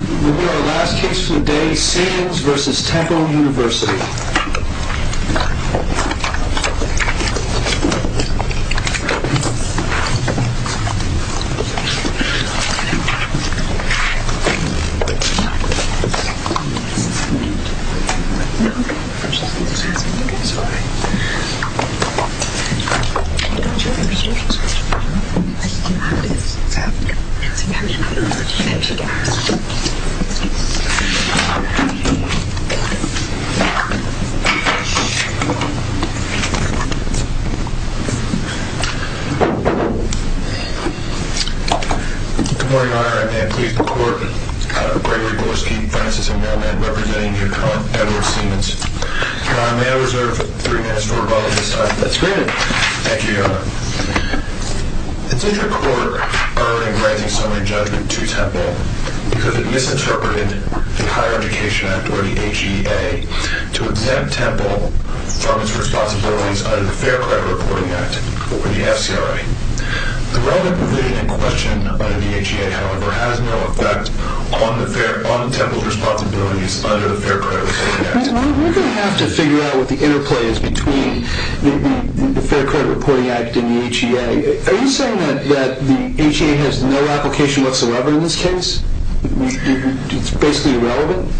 We have our last case for the day, Seamans v. Temple University. Good morning, Your Honor. May I please report, uh, Gregory Gorski, Francis M. Melnick, representing your client, Edward Seamans. Your Honor, may I reserve three minutes for rebuttal this time? That's great. Thank you, Your Honor. The district court earned a granting summary judgment to Temple because it misinterpreted the Higher Education Act, or the HEA, to exempt Temple from its responsibilities under the Fair Credit Reporting Act, or the FCRA. The relevant provision in question under the HEA, however, has no effect on the Temple's responsibilities under the Fair Credit Reporting Act. We're going to have to figure out what the interplay is between the Fair Credit Reporting Act and the HEA. Are you saying that the HEA has no application whatsoever in this case? It's basically irrelevant?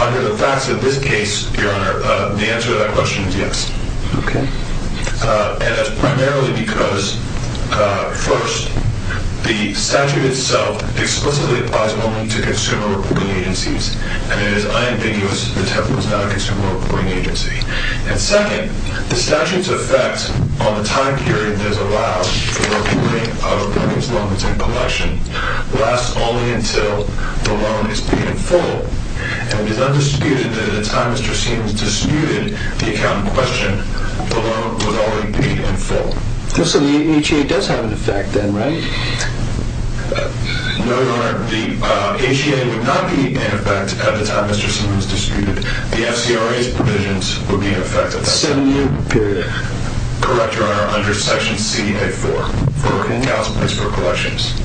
Under the facts of this case, Your Honor, the answer to that question is yes. Okay. And that's primarily because, uh, first, the statute itself explicitly applies only to consumer reporting agencies, and it is unambiguous that the Temple is not a consumer reporting agency. And second, the statute's effect on the time period that is allowed for reporting of records, loans, and collection lasts only until the loan is paid in full. And it is undisputed that at the time Mr. Seamans disputed the account in question, the loan was already paid in full. So the HEA does have an effect then, right? No, Your Honor. The HEA would not be in effect at the time Mr. Seamans disputed. The FCRA's provisions would be in effect at that time. Seven-year period. Correct, Your Honor, under Section CA-4. Okay. For accounts placed for collections.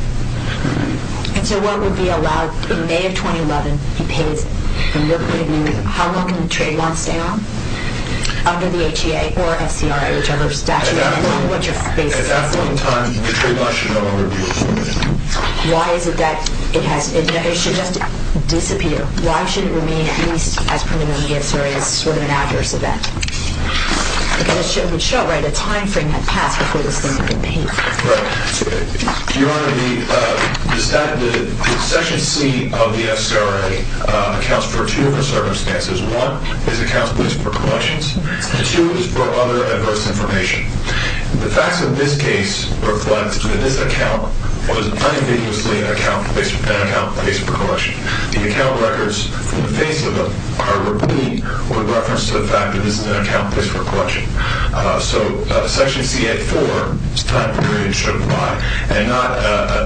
And so what would be allowed in May of 2011, he pays, and we'll put it in use. How long can the trade loans stay on under the HEA or FCRA, whichever statute? At that point in time, the trade loans should no longer be in effect. Why is it that it should just disappear? Why should it remain at least as preliminary as sort of an adverse event? Because it would show, right, a time frame had passed before this thing could be paid. Right. Your Honor, the Section C of the FCRA accounts for two of the circumstances. One is accounts placed for collections, and two is for other adverse information. The facts of this case reflect that this account was unambiguously an account placed for collection. The account records from the face of it are repeat with reference to the fact that this is an account placed for collection. So Section CA-4 is the time period it should apply, and not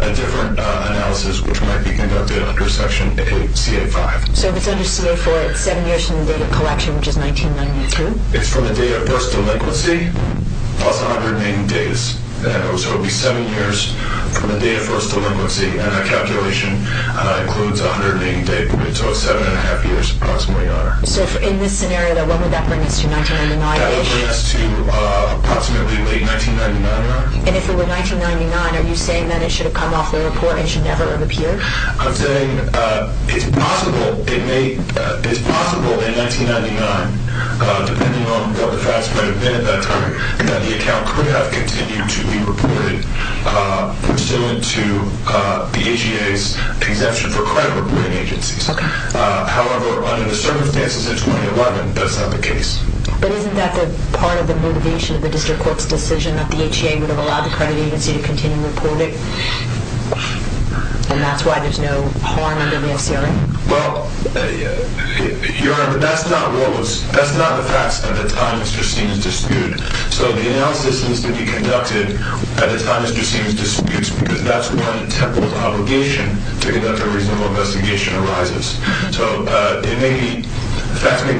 a different analysis which might be conducted under Section CA-5. So if it's under CA-4, it's seven years from the date of collection, which is 1992? It's from the date of first delinquency, plus 180 days. So it would be seven years from the date of first delinquency, and that calculation includes 180 days. So it's seven and a half years approximately, Your Honor. So in this scenario, when would that bring us to 1999? That would bring us to approximately late 1999, Your Honor. And if it were 1999, are you saying that it should have come off the report and should never have appeared? I'm saying it's possible in 1999, depending on what the facts might have been at that time, that the account could have continued to be reported pursuant to the HEA's exemption for credit reporting agencies. However, under the circumstances in 2011, that's not the case. But isn't that part of the motivation of the District Court's decision that the HEA would have allowed the credit agency to continue to report it? And that's why there's no harm under the FCRA? Well, Your Honor, but that's not the facts at the time. It just seems disputed. So the analysis needs to be conducted at the time it just seems disputed, because that's when Temple's obligation to conduct a reasonable investigation arises. So the facts may be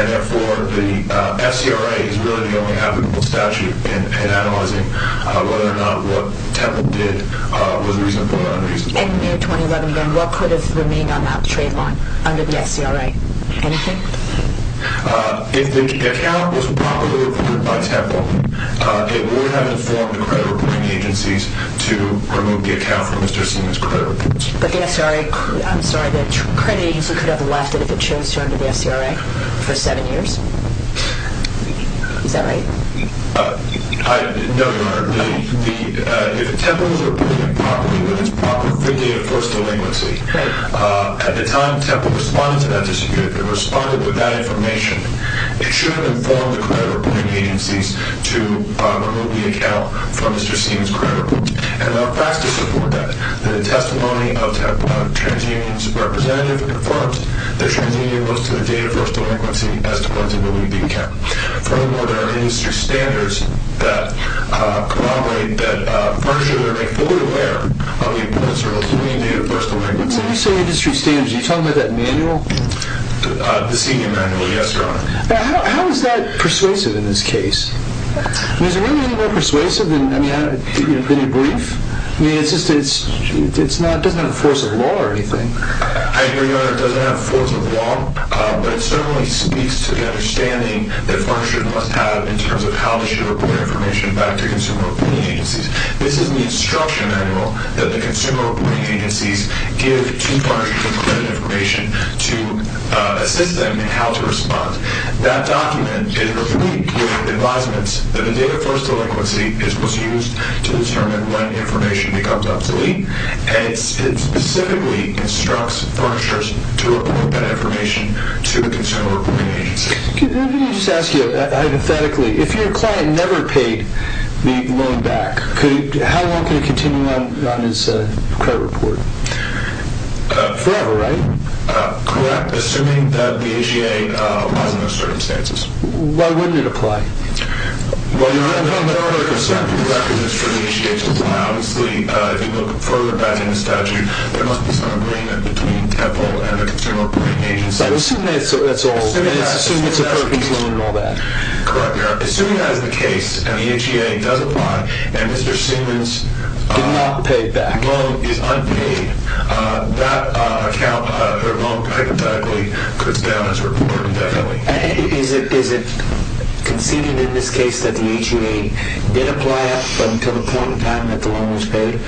And therefore, the FCRA is really the only applicable statute in analyzing whether or not what Temple did was reasonable or unreasonable. In May 2011, then, what could have remained on that trade line under the FCRA? Anything? If the account was properly reported by Temple, it would have informed the credit reporting agencies to remove the account from Mr. Seema's credit report. But the SCRA, I'm sorry, the credit agency could have left it if it chose to enter the SCRA for seven years? Is that right? No, Your Honor. If Temple was reporting it properly, but it was properly freely a first delinquency, at the time Temple responded to that dispute, it responded with that information, it should have informed the credit reporting agencies to remove the account from Mr. Seema's credit report. And the facts to support that, the testimony of TransUnion's representative confirms that TransUnion owes to the date of first delinquency as to when to remove the account. Furthermore, there are industry standards that corroborate that furniture may be fully aware of the importance of a clean date of first delinquency. When you say industry standards, are you talking about that manual? The senior manual, yes, Your Honor. How is that persuasive in this case? I mean, is it really any more persuasive than your brief? I mean, it doesn't have the force of law or anything. I hear you, Your Honor. It doesn't have the force of law, but it certainly speaks to the understanding that furniture must have in terms of how to issue reporting information back to consumer reporting agencies. This is the instruction manual that the consumer reporting agencies give to furniture credit information to assist them in how to respond. That document is reviewed with advisements that the date of first delinquency was used to determine when information becomes obsolete, and it specifically instructs furnitures to report that information to the consumer reporting agency. Let me just ask you, hypothetically, if your client never paid the loan back, how long can he continue on his credit report? Forever, right? Correct, assuming that the HEA applies in those circumstances. Why wouldn't it apply? Well, Your Honor, there are other concerning requisites for the HEA to apply. Obviously, if you look further back in the statute, there must be some agreement between Temple and the consumer reporting agency. I assume that's all. I assume it's a fair conclusion and all that. Correct, Your Honor. Assuming that is the case and the HEA does apply and Mr. Siemens did not pay back. The loan is unpaid. That account, their loan, hypothetically, goes down as reported indefinitely. And is it conceded in this case that the HEA did apply up until the point in time that the loan was paid?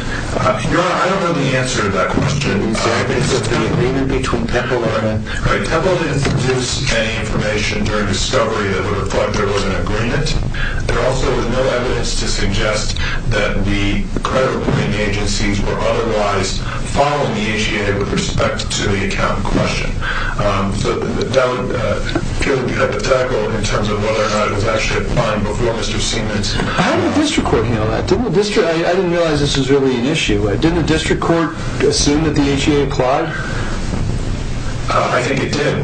Your Honor, I don't know the answer to that question. It's the agreement between Temple and them. Temple didn't produce any information during discovery that would reflect there was an agreement and the credit reporting agencies were otherwise following the HEA with respect to the account in question. So that would be a hypothetical in terms of whether or not it was actually applied before Mr. Siemens. How did the district court handle that? I didn't realize this was really an issue. Didn't the district court assume that the HEA applied? I think it did.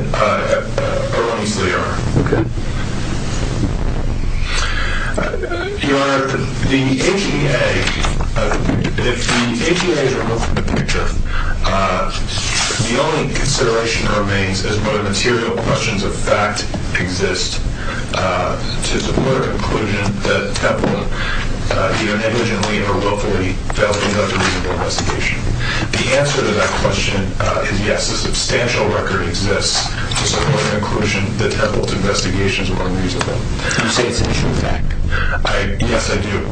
Okay. Your Honor, the HEA, if the HEA is removed from the picture, the only consideration remains as to whether material questions of fact exist to the political conclusion that Temple either negligently or willfully failed to conduct a reasonable investigation. The answer to that question is yes. As long as a substantial record exists to support an inclusion, the Temple's investigations were unreasonable. You say it's an issue of fact? Yes, I do.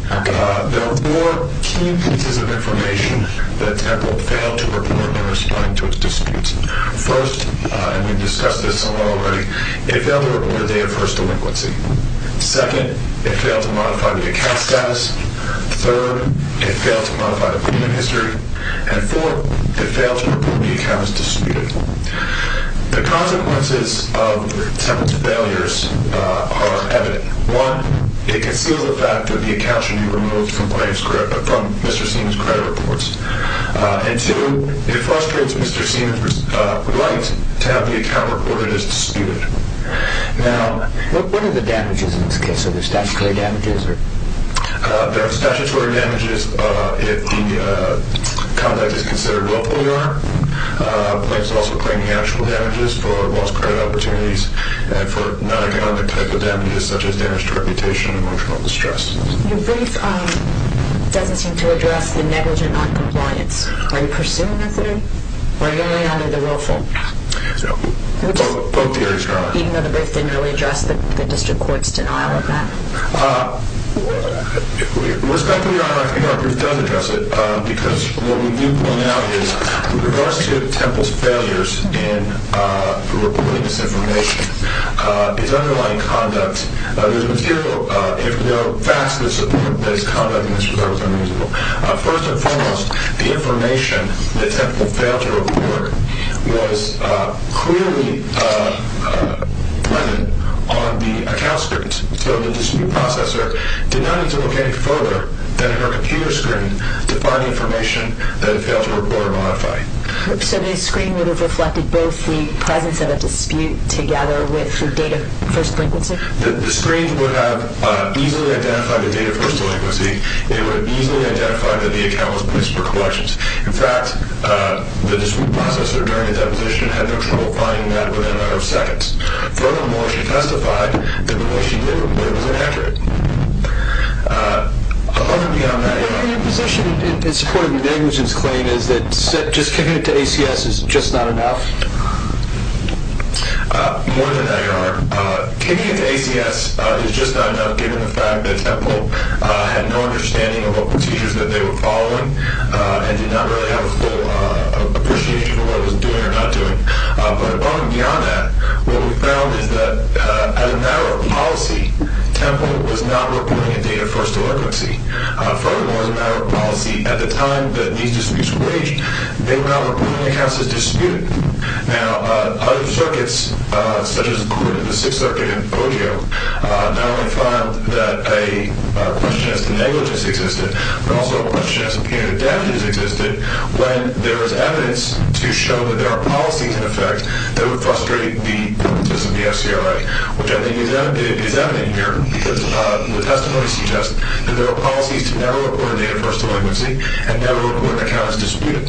There are four key pieces of information that Temple failed to report in responding to its disputes. First, and we've discussed this somewhere already, it failed to report a day of first delinquency. Second, it failed to modify the account status. Third, it failed to modify the payment history. And fourth, it failed to report the account as disputed. The consequences of Temple's failures are evident. One, it conceals the fact that the account should be removed from Mr. Siemens' credit reports. And two, it frustrates Mr. Siemens' right to have the account reported as disputed. What are the damages in this case? Are there statutory damages? There are statutory damages if the conduct is considered willful, Your Honor. The plaintiff is also claiming actual damages for lost credit opportunities and for non-economic type of damages such as damage to reputation and emotional distress. Your brief doesn't seem to address the negligent noncompliance. Are you pursuing that theory? Or are you laying under the willful? Both theories are on it. Even though the brief didn't really address the district court's denial of that. Respectfully, Your Honor, I think our brief does address it because what we do point out is with regards to Temple's failures in reporting this information, his underlying conduct, there's material, if there are facts that support that his conduct in this regard was unreasonable. First and foremost, the information that Temple failed to report was clearly on the account script. So the dispute processor did not need to look any further than her computer screen to find information that it failed to report or modify. So the screen would have reflected both the presence of a dispute together with the date of first delinquency? The screen would have easily identified the date of first delinquency. It would have easily identified that the account was placed for collections. In fact, the dispute processor during the deposition had no trouble finding that within a matter of seconds. Furthermore, she testified that the way she did report was inaccurate. Other than that, Your Honor. Your position in support of the negligence claim is that just committing to ACS is just not enough? More than that, Your Honor. Committing to ACS is just not enough given the fact that Temple had no understanding of what procedures that they were following and did not really have a full appreciation for what it was doing or not doing. But above and beyond that, what we found is that as a matter of policy, Temple was not reporting a date of first delinquency. Furthermore, as a matter of policy, at the time that these disputes were waged, they were not reporting accounts as disputed. Now, other circuits, such as the Sixth Circuit and ODO, not only found that a question as to negligence existed, but also a question as to punitive damages existed when there was evidence to show that there are policies in effect that would frustrate the purposes of the FCRA, which I think is evident here because the testimony suggests that there are policies to never report a date of first delinquency and never report an account as disputed.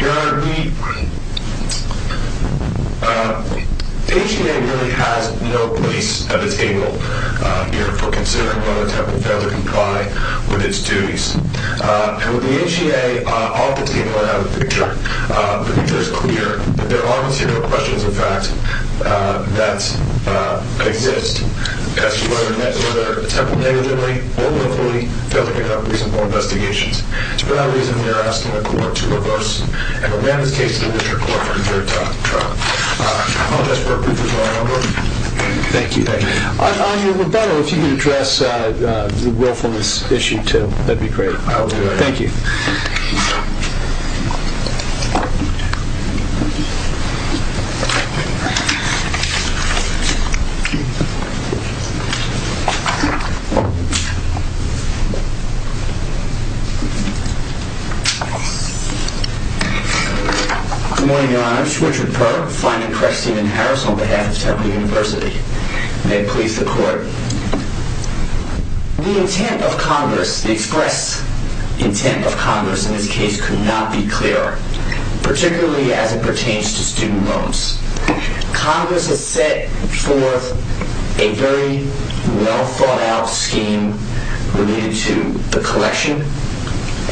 Your Honor, the HCA really has no place at the table here for considering whether Temple failed to comply with its duties. And with the HCA off the table and out of the picture, the picture is clear that there are material questions, in fact, that exist as to whether Temple negligently or willfully failed to conduct reasonable investigations. For that reason, we are asking the Court to reverse and revamp this case to the District Court for a third time. Your Honor. I apologize for our briefness, Your Honor. Thank you. On your rebuttal, if you could address the willfulness issue, too, that would be great. I will do that. Thank you. Good morning, Your Honor. It's Richard Perk, finding Cresthaven Harris on behalf of Temple University. May it please the Court. The intent of Congress, the express intent of Congress in this case could not be clearer, particularly as it pertains to student loans. Congress has set forth a very well-thought-out scheme related to the collection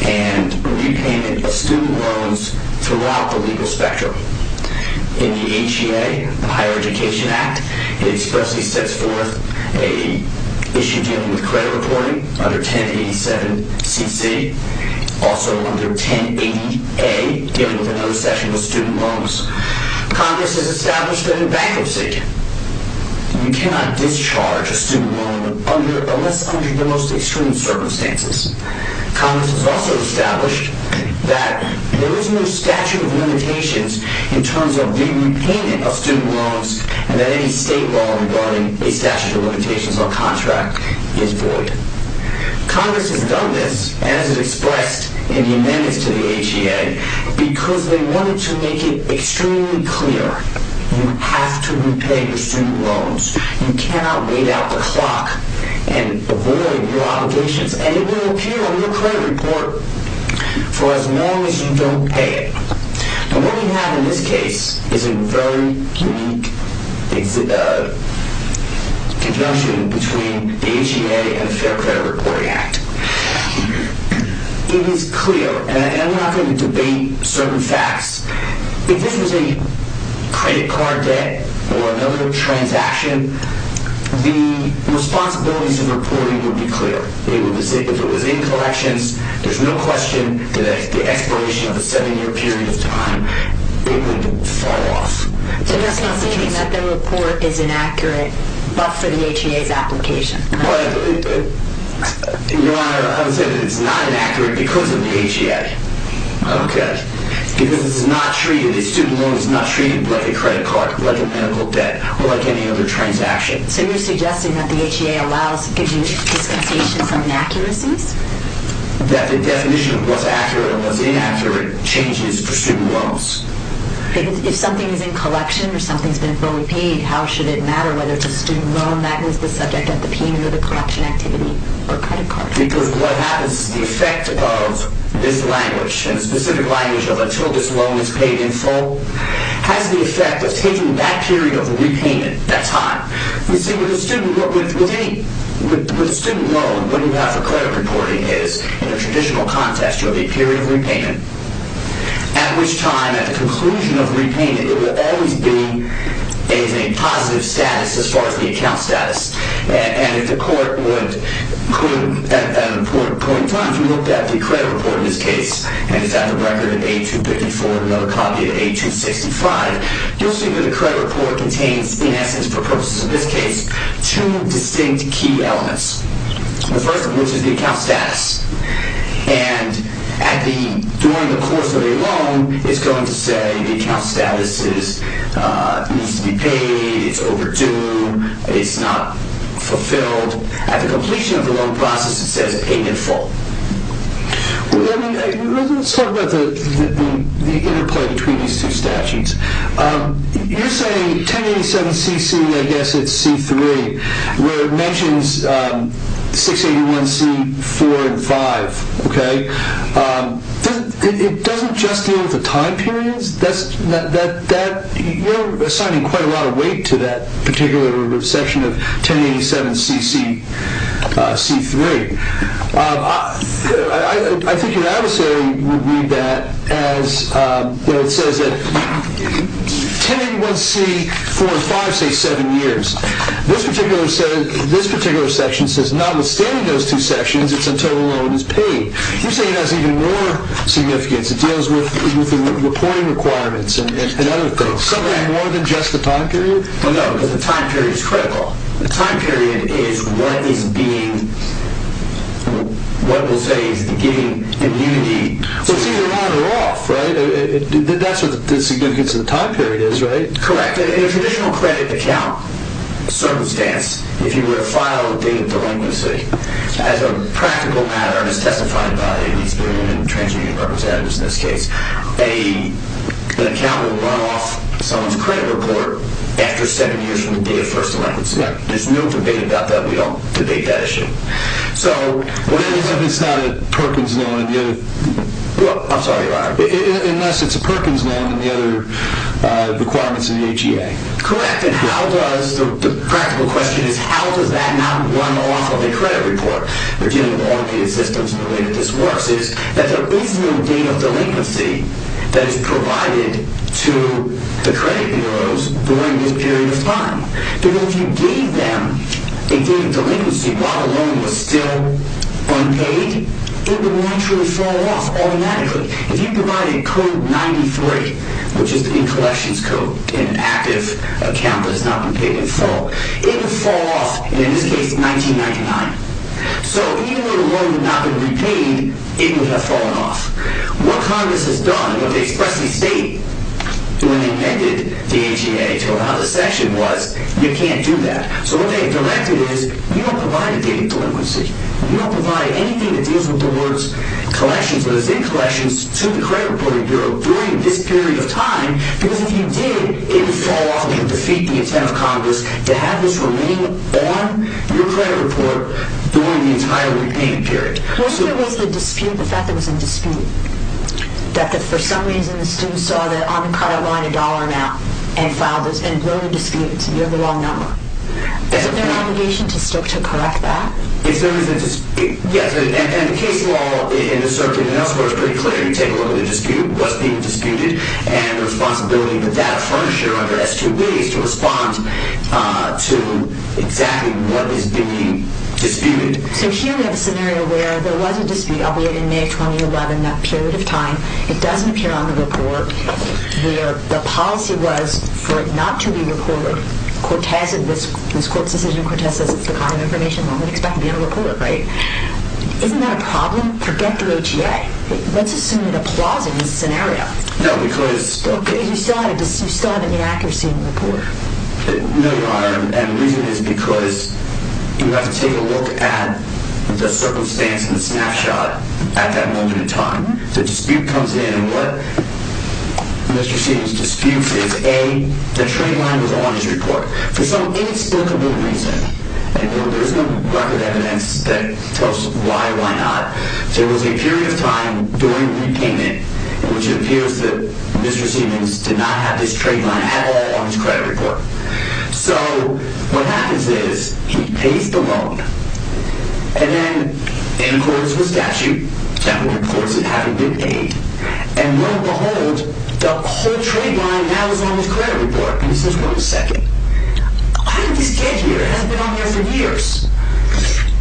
and repayment of student loans throughout the legal spectrum. In the HCA, the Higher Education Act, it expressly sets forth an issue dealing with credit reporting under 1087CC, also under 1080A, dealing with another section of student loans. Congress has established that in bankruptcy, you cannot discharge a student loan unless under the most extreme circumstances. Congress has also established that there is no statute of limitations in terms of the repayment of student loans and that any state law regarding a statute of limitations on contract is void. Congress has done this, as it expressed in the amendments to the HCA, because they wanted to make it extremely clear you have to repay your student loans. You cannot wait out the clock and avoid your obligations. And it will appear on your credit report for as long as you don't pay it. And what we have in this case is a very unique conjunction between the HCA and the Fair Credit Reporting Act. It is clear, and I'm not going to debate certain facts. If this was a credit card debt or another transaction, the responsibilities of reporting would be clear. If it was in collections, there's no question that the expiration of a seven-year period of time, it would fall off. So you're saying that the report is inaccurate, but for the HCA's application? Your Honor, I would say that it's not inaccurate because of the HCA. Okay. Because it's not treated, the student loan is not treated like a credit card, like a medical debt, or like any other transaction. So you're suggesting that the HCA allows, gives you discontinuation from inaccuracies? That the definition of what's accurate and what's inaccurate changes for student loans. If something is in collection or something has been fully paid, how should it matter whether it's a student loan that is the subject of the payment or the collection activity or credit card? Because what happens is the effect of this language, and the specific language of until this loan is paid in full, has the effect of taking that period of repayment, that time. You see, with a student loan, what you have for credit reporting is, in a traditional context, you have a period of repayment, at which time at the conclusion of repayment it would always be a positive status as far as the account status. And if the court would, at an important point in time, if you looked at the credit report in this case, and it's at the record of 8254 and another copy of 8265, you'll see that the credit report contains, in essence, for purposes of this case, two distinct key elements. The first of which is the account status. And during the course of a loan, it's going to say the account status needs to be paid, it's overdue, it's not fulfilled. At the completion of the loan process, it says it's paid in full. Let's talk about the interplay between these two statutes. You're saying 1087 CC, I guess it's C3, where it mentions 681 C4 and 5, okay? It doesn't just deal with the time periods? You're assigning quite a lot of weight to that particular section of 1087 CC, C3. I think your adversary would read that as, you know, it says that 1081 C4 and 5 say seven years. This particular section says notwithstanding those two sections, it's until the loan is paid. You're saying it has even more significance. It deals with the reporting requirements and other things. Something more than just the time period? Well, no, because the time period is critical. The time period is what is being, what we'll say is giving immunity. Well, it's either on or off, right? That's what the significance of the time period is, right? Correct. In a traditional credit account circumstance, if you were to file a date of delinquency, as a practical matter as testified by these transmedia representatives in this case, an account will run off someone's credit report after seven years from the date of first delinquency. There's no debate about that. We don't debate that issue. So what happens if it's not a Perkins loan? I'm sorry. Unless it's a Perkins loan and the other requirements in the HEA. Correct. And how does, the practical question is how does that not run off of a credit report? We're dealing with all of these systems and the way that this works is that there is no date of delinquency that is provided to the credit bureaus during this period of time. Because if you gave them a date of delinquency while the loan was still unpaid, it would naturally fall off automatically. If you provided code 93, which is the collections code in an active account that has not been paid in full, it would fall off, and in this case, 1999. So even when the loan had not been repaid, it would have fallen off. What Congress has done, what they expressly state when they amended the HEA to what the other section was, you can't do that. So what they have directed is you don't provide a date of delinquency. You don't provide anything that deals with the words collections or is in collections to the credit reporting bureau during this period of time because if you did, it would fall off and defeat the intent of Congress to have this remain on your credit report during the entire repayment period. What if there was a dispute, the fact that there was a dispute, that for some reason the student saw that on the credit line a dollar amount and filed this and wrote a dispute and said you have the wrong number? Isn't there an obligation to stick to correct that? Yes, and the case law in the circuit and elsewhere is pretty clear. So here you take a look at the dispute, what's being disputed, and the responsibility of the data furniture under S2B is to respond to exactly what is being disputed. So here we have a scenario where there was a dispute, albeit in May 2011, that period of time. It doesn't appear on the report where the policy was for it not to be reported. Cortez, in this court's decision, Cortez says it's the kind of information when we expect it to be in a report, right? Isn't that a problem? Forget the HEA. Let's assume it applies in this scenario. No, because... Because you still have an inaccuracy in the report. No, Your Honor, and the reason is because you have to take a look at the circumstance and the snapshot at that moment in time. The dispute comes in and what Mr. Seaton's dispute is, A, the trade line was on his report for some inexplicable reason. There is no record evidence that tells why, why not. There was a period of time during repayment in which it appears that Mr. Seaton did not have his trade line at all on his credit report. So what happens is he pays the loan, and then in accordance with statute, that would impose it having been paid, and lo and behold, the whole trade line now is on his credit report. And he says, wait a second, how did this get here? It hasn't been on there for years.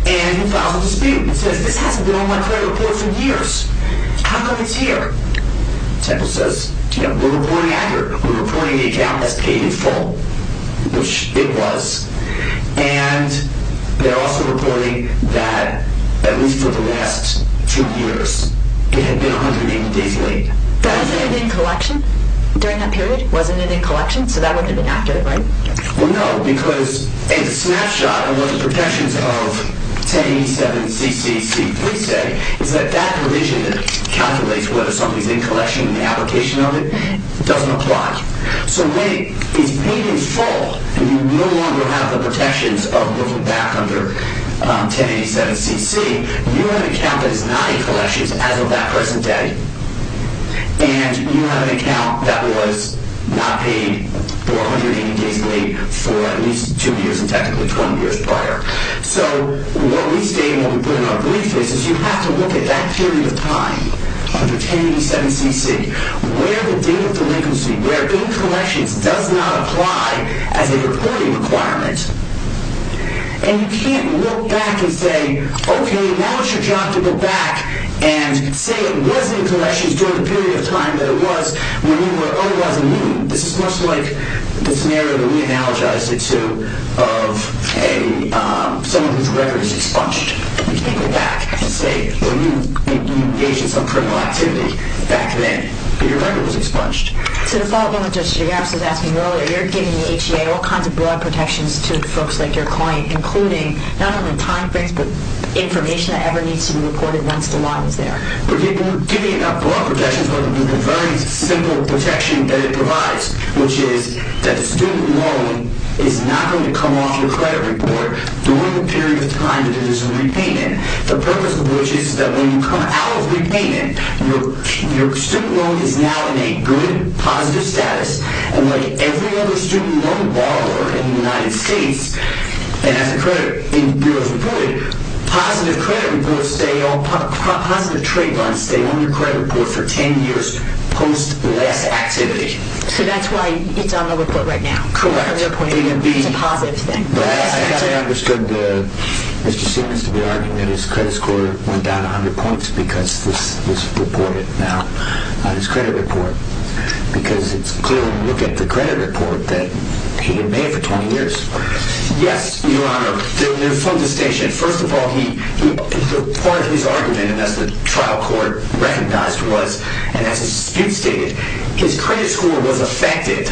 And he files a dispute. He says, this hasn't been on my credit report for years. How come it's here? Temple says, you know, we're reporting accurate. We're reporting the account as paid in full, which it was. And they're also reporting that at least for the last two years, it had been 180 days late. But wasn't it in collection during that period? Wasn't it in collection? So that wouldn't have been accurate, right? Well, no, because a snapshot of what the protections of 1087 CCC would say is that that provision calculates whether somebody's in collection and the application of it doesn't apply. So wait, it's paid in full, and you no longer have the protections of moving back under 1087 CC. You have an account that is not in collections as of that present day, and you have an account that was not paid 480 days late for at least two years and technically 20 years prior. So what we state and what we put in our brief is, is you have to look at that period of time, under 1087 CC, where the date of delinquency, where in collections, does not apply as a reporting requirement. And you can't look back and say, okay, now it's your job to go back and say it was in collections during the period of time that it was when you were otherwise immune. This is much like the scenario that we analogized it to of someone whose record was expunged. You can't go back and say when you engaged in some criminal activity back then, but your record was expunged. So to follow up on what Judge Gigaffis was asking earlier, you're giving the HEA all kinds of broad protections to folks like your client, including not only time frames, but information that ever needs to be reported once the line is there. We're giving it not broad protections, but the very simple protection that it provides, which is that the student loan is not going to come off your credit report during the period of time that it is in repayment. The purpose of which is that when you come out of repayment, your student loan is now in a good, positive status, and like every other student loan borrower in the United States, and has a credit in the period of reporting, positive credit reports stay on, positive trade lines stay on your credit report for 10 years post less activity. So that's why it's on the report right now. Correct. It's a positive thing. I actually understood Mr. Siemens to be arguing that his credit score went down 100 points because this was reported now on his credit report, because it's clear when you look at the credit report that he had been there for 20 years. Yes, Your Honor. They're from the station. First of all, part of his argument, and that's the trial court recognized was, and as his dispute stated, his credit score was affected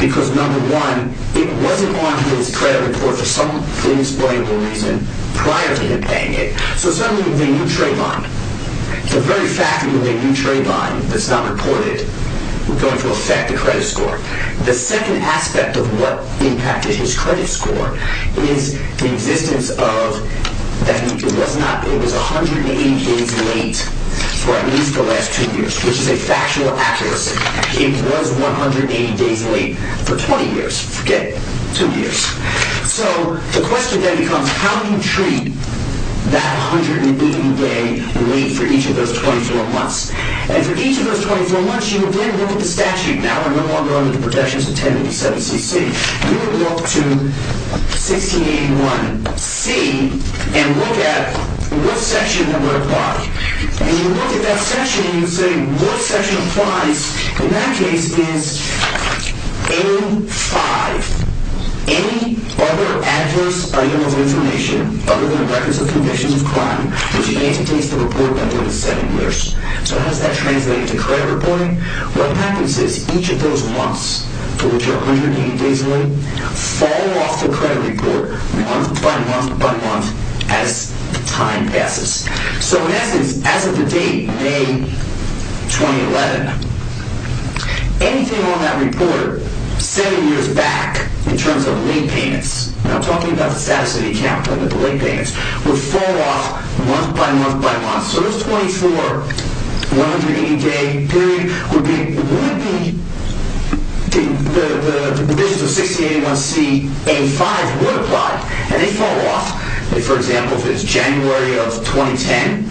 because, number one, it wasn't on his credit report for some inexplicable reason prior to him paying it. So suddenly we have a new trade line. The very fact that we have a new trade line that's not reported is going to affect the credit score. The second aspect of what impacted his credit score is the existence of, it was 180 days late for at least the last two years, which is a factual accuracy. It was 180 days late for 20 years. Forget two years. So the question then becomes, how do you treat that 180-day wait for each of those 24 months? And for each of those 24 months, you again look at the statute. Now we're no longer under the protections of 1087CC. You would look to 1681C and look at what section that would apply. You would look at that section and you would say what section applies. In that case, it is A-5. Any other adverse item of information other than the records of conviction of crime, which he anticipates to report by 27 years. So how does that translate into credit reporting? What happens is each of those months, for which are 180 days late, fall off the credit report month by month by month as time passes. So in essence, as of the date, May 2011, anything on that report seven years back in terms of late payments, now I'm talking about the status of the account, but the late payments, would fall off month by month by month. So those 24, 180-day period would be the provisions of 1681C, A-5 would apply. And they fall off. For example, if it's January of 2010,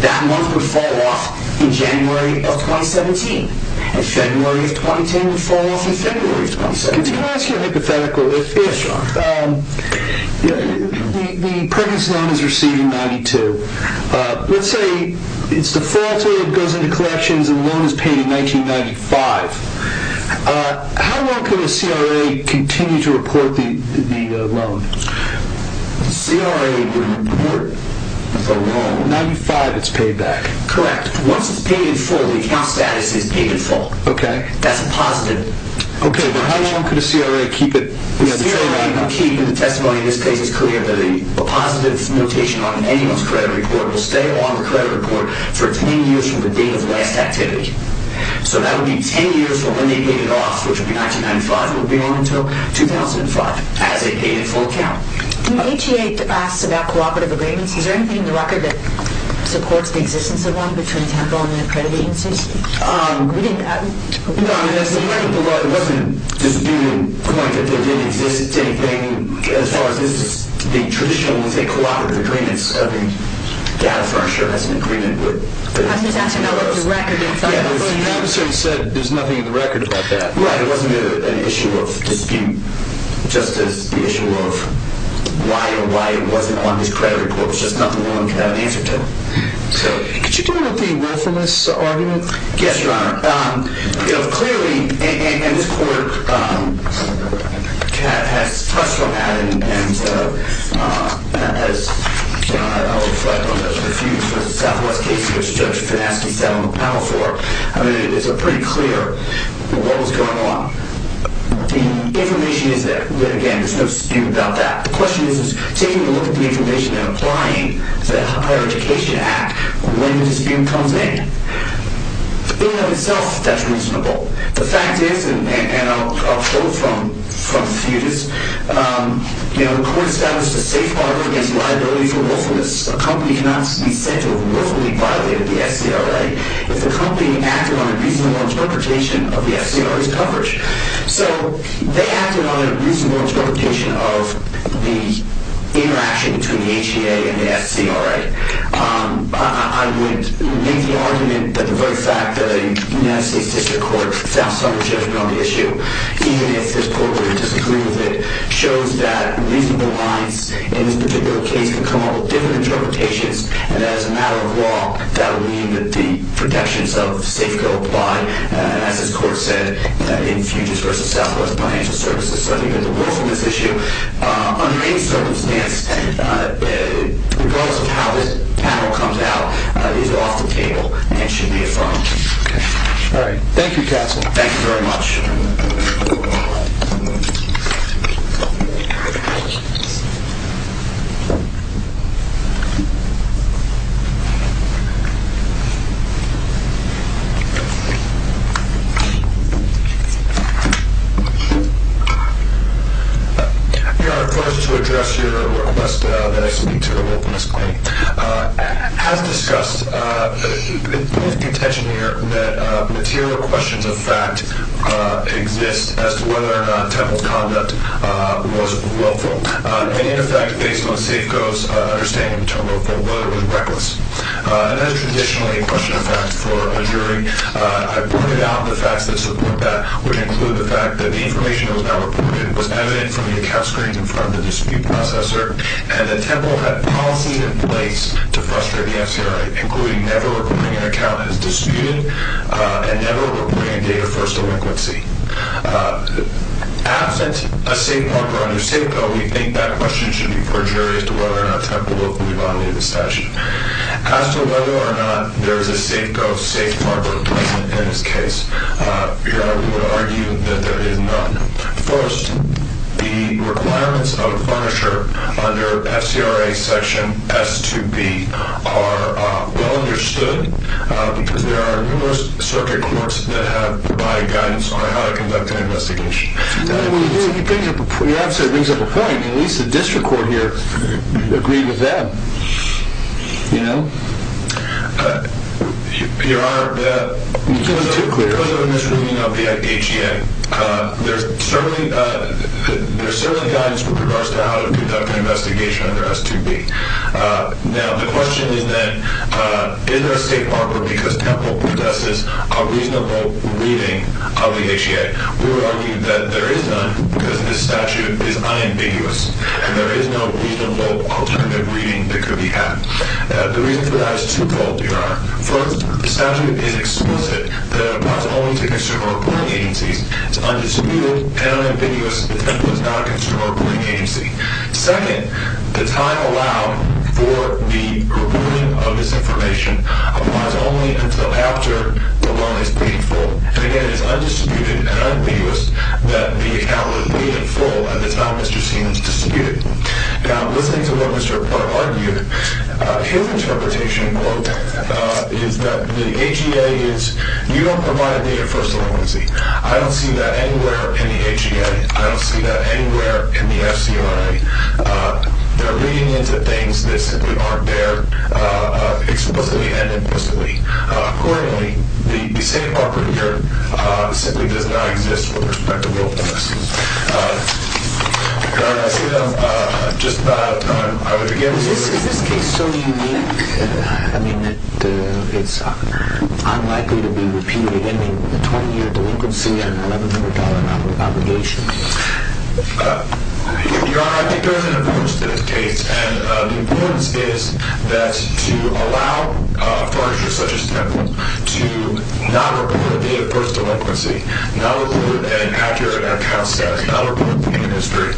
that month would fall off in January of 2017. And February of 2010 would fall off in February of 2017. Can I ask you a hypothetical? Yes, John. The pregnancy loan is receiving 92. Let's say it's defaulted, goes into collections, and the loan is paid in 1995. How long could a CRA continue to report the loan? A CRA would report the loan. In 1995, it's paid back. Correct. Once it's paid in full, the account status is paid in full. Okay. That's a positive. Okay, but how long could a CRA keep it? A CRA can keep the testimony in this case as clear, that a positive notation on anyone's credit report will stay on the credit report for 10 years from the date of the last activity. So that would be 10 years from when they paid it off, which would be 1995, would be on until 2005, as it paid in full account. When HEA asks about cooperative agreements, is there anything in the record that supports the existence of one between Temple and the accredited agencies? No, I mean, as far as the law, it wasn't disputed to the point that there didn't exist anything. As far as the traditional ones, the cooperative agreements of the data firm sure has an agreement. I'm just asking about what the record is. Yeah, the officer said there's nothing in the record about that. Right, it wasn't an issue of dispute, just as the issue of why or why it wasn't on his credit report. It's just nothing no one could have an answer to. Could you deal with the worthiness argument? Yes, Your Honor. Clearly, and this court has touched on that and has refuted the Southwest case which Judge Finasci sat on the panel for. I mean, it's pretty clear what was going on. The information is there. Again, there's nothing stupid about that. The question is taking a look at the information and applying the Higher Education Act when the dispute comes in. In and of itself, that's reasonable. The fact is, and I'll quote from the fetus, the court established a safe harbor against liability for worthiness. A company cannot be said to have worthily violated the SCRA if the company acted on a reasonable interpretation of the SCRA's coverage. So they acted on a reasonable interpretation of the interaction between the HEA and the SCRA. I would make the argument that the very fact that a United States District Court found somersaulting on the issue, even if this court would disagree with it, shows that reasonable lines in this particular case can come up with different interpretations and that as a matter of law, that would mean that the protections of safe-go apply, as this court said in Fuges v. Southwest Financial Services, that the worthiness issue, under any circumstance, regardless of how this panel comes out, is off the table and should be affirmed. All right. Thank you, counsel. Thank you very much. Your request to address your request that I speak to the worthiness claim has discussed the intention here that material questions of fact exist as to whether or not Temple's conduct was willful, and in effect, based on Safeco's understanding of the term willful, whether it was reckless. And that is traditionally a question of fact for a jury. I've broken down the facts that support that, which include the fact that the information that was now reported was evident from the account screen in front of the dispute processor and that Temple had policies in place to frustrate the FCRA, including never reporting an account as disputed and never reporting a date of first delinquency. Absent a safe marker under Safeco, we think that question should be perjurious to whether or not Temple will fully violate the statute. As to whether or not there is a Safeco safe marker present in this case, your Honor, we would argue that there is none. First, the requirements of the furniture under FCRA Section S2B are well understood because there are numerous circuit courts that have provided guidance on how to conduct an investigation. Well, your answer brings up a point. At least the district court here agreed with that, you know. Your Honor, because of a misreading of the HEA, there's certainly guidance with regards to how to conduct an investigation under S2B. Now, the question is then, is there a safe marker because Temple possesses a reasonable reading of the HEA? We would argue that there is none because this statute is unambiguous and there is no reasonable alternative reading that could be had. The reason for that is twofold, your Honor. First, the statute is explicit that it applies only to consumer reporting agencies. It's undisputed and unambiguous that Temple is not a consumer reporting agency. Second, the time allowed for the reporting of this information applies only until after the loan is paid full. And again, it's undisputed and unambiguous that the account was paid in full at the time Mr. Seaman's disputed. Now, listening to what Mr. Platt argued, his interpretation, quote, is that the HEA is, you don't provide me a first appointment. I don't see that anywhere in the HEA. I don't see that anywhere in the FCRA. They're reading into things that simply aren't there explicitly and implicitly. Accordingly, the safe marker here simply does not exist with respect to willfulness. Your Honor, I see that I'm just about out of time. I would begin with this. Is this case so unique? I mean, it's unlikely to be repeated, ending with a 20-year delinquency and an $11,000 non-reprobation. Your Honor, I think there is an approach to this case, and the importance is that to allow a foreigner such as Temple to not report, be it a first delinquency, not report an accurate account status, not report to the Ministry,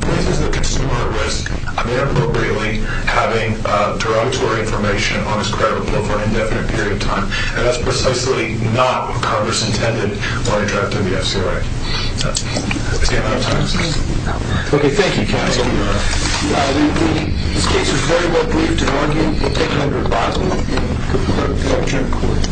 places the consumer at risk, I mean, appropriately, having derogatory information on his credit report for an indefinite period of time. And that's precisely not what Congress intended when it drafted the FCRA. I see I'm out of time, sir. Okay, thank you, counsel. Thank you, Your Honor. We believe this case was very well briefed and argued. We'll take it under rebuttal. Thank you.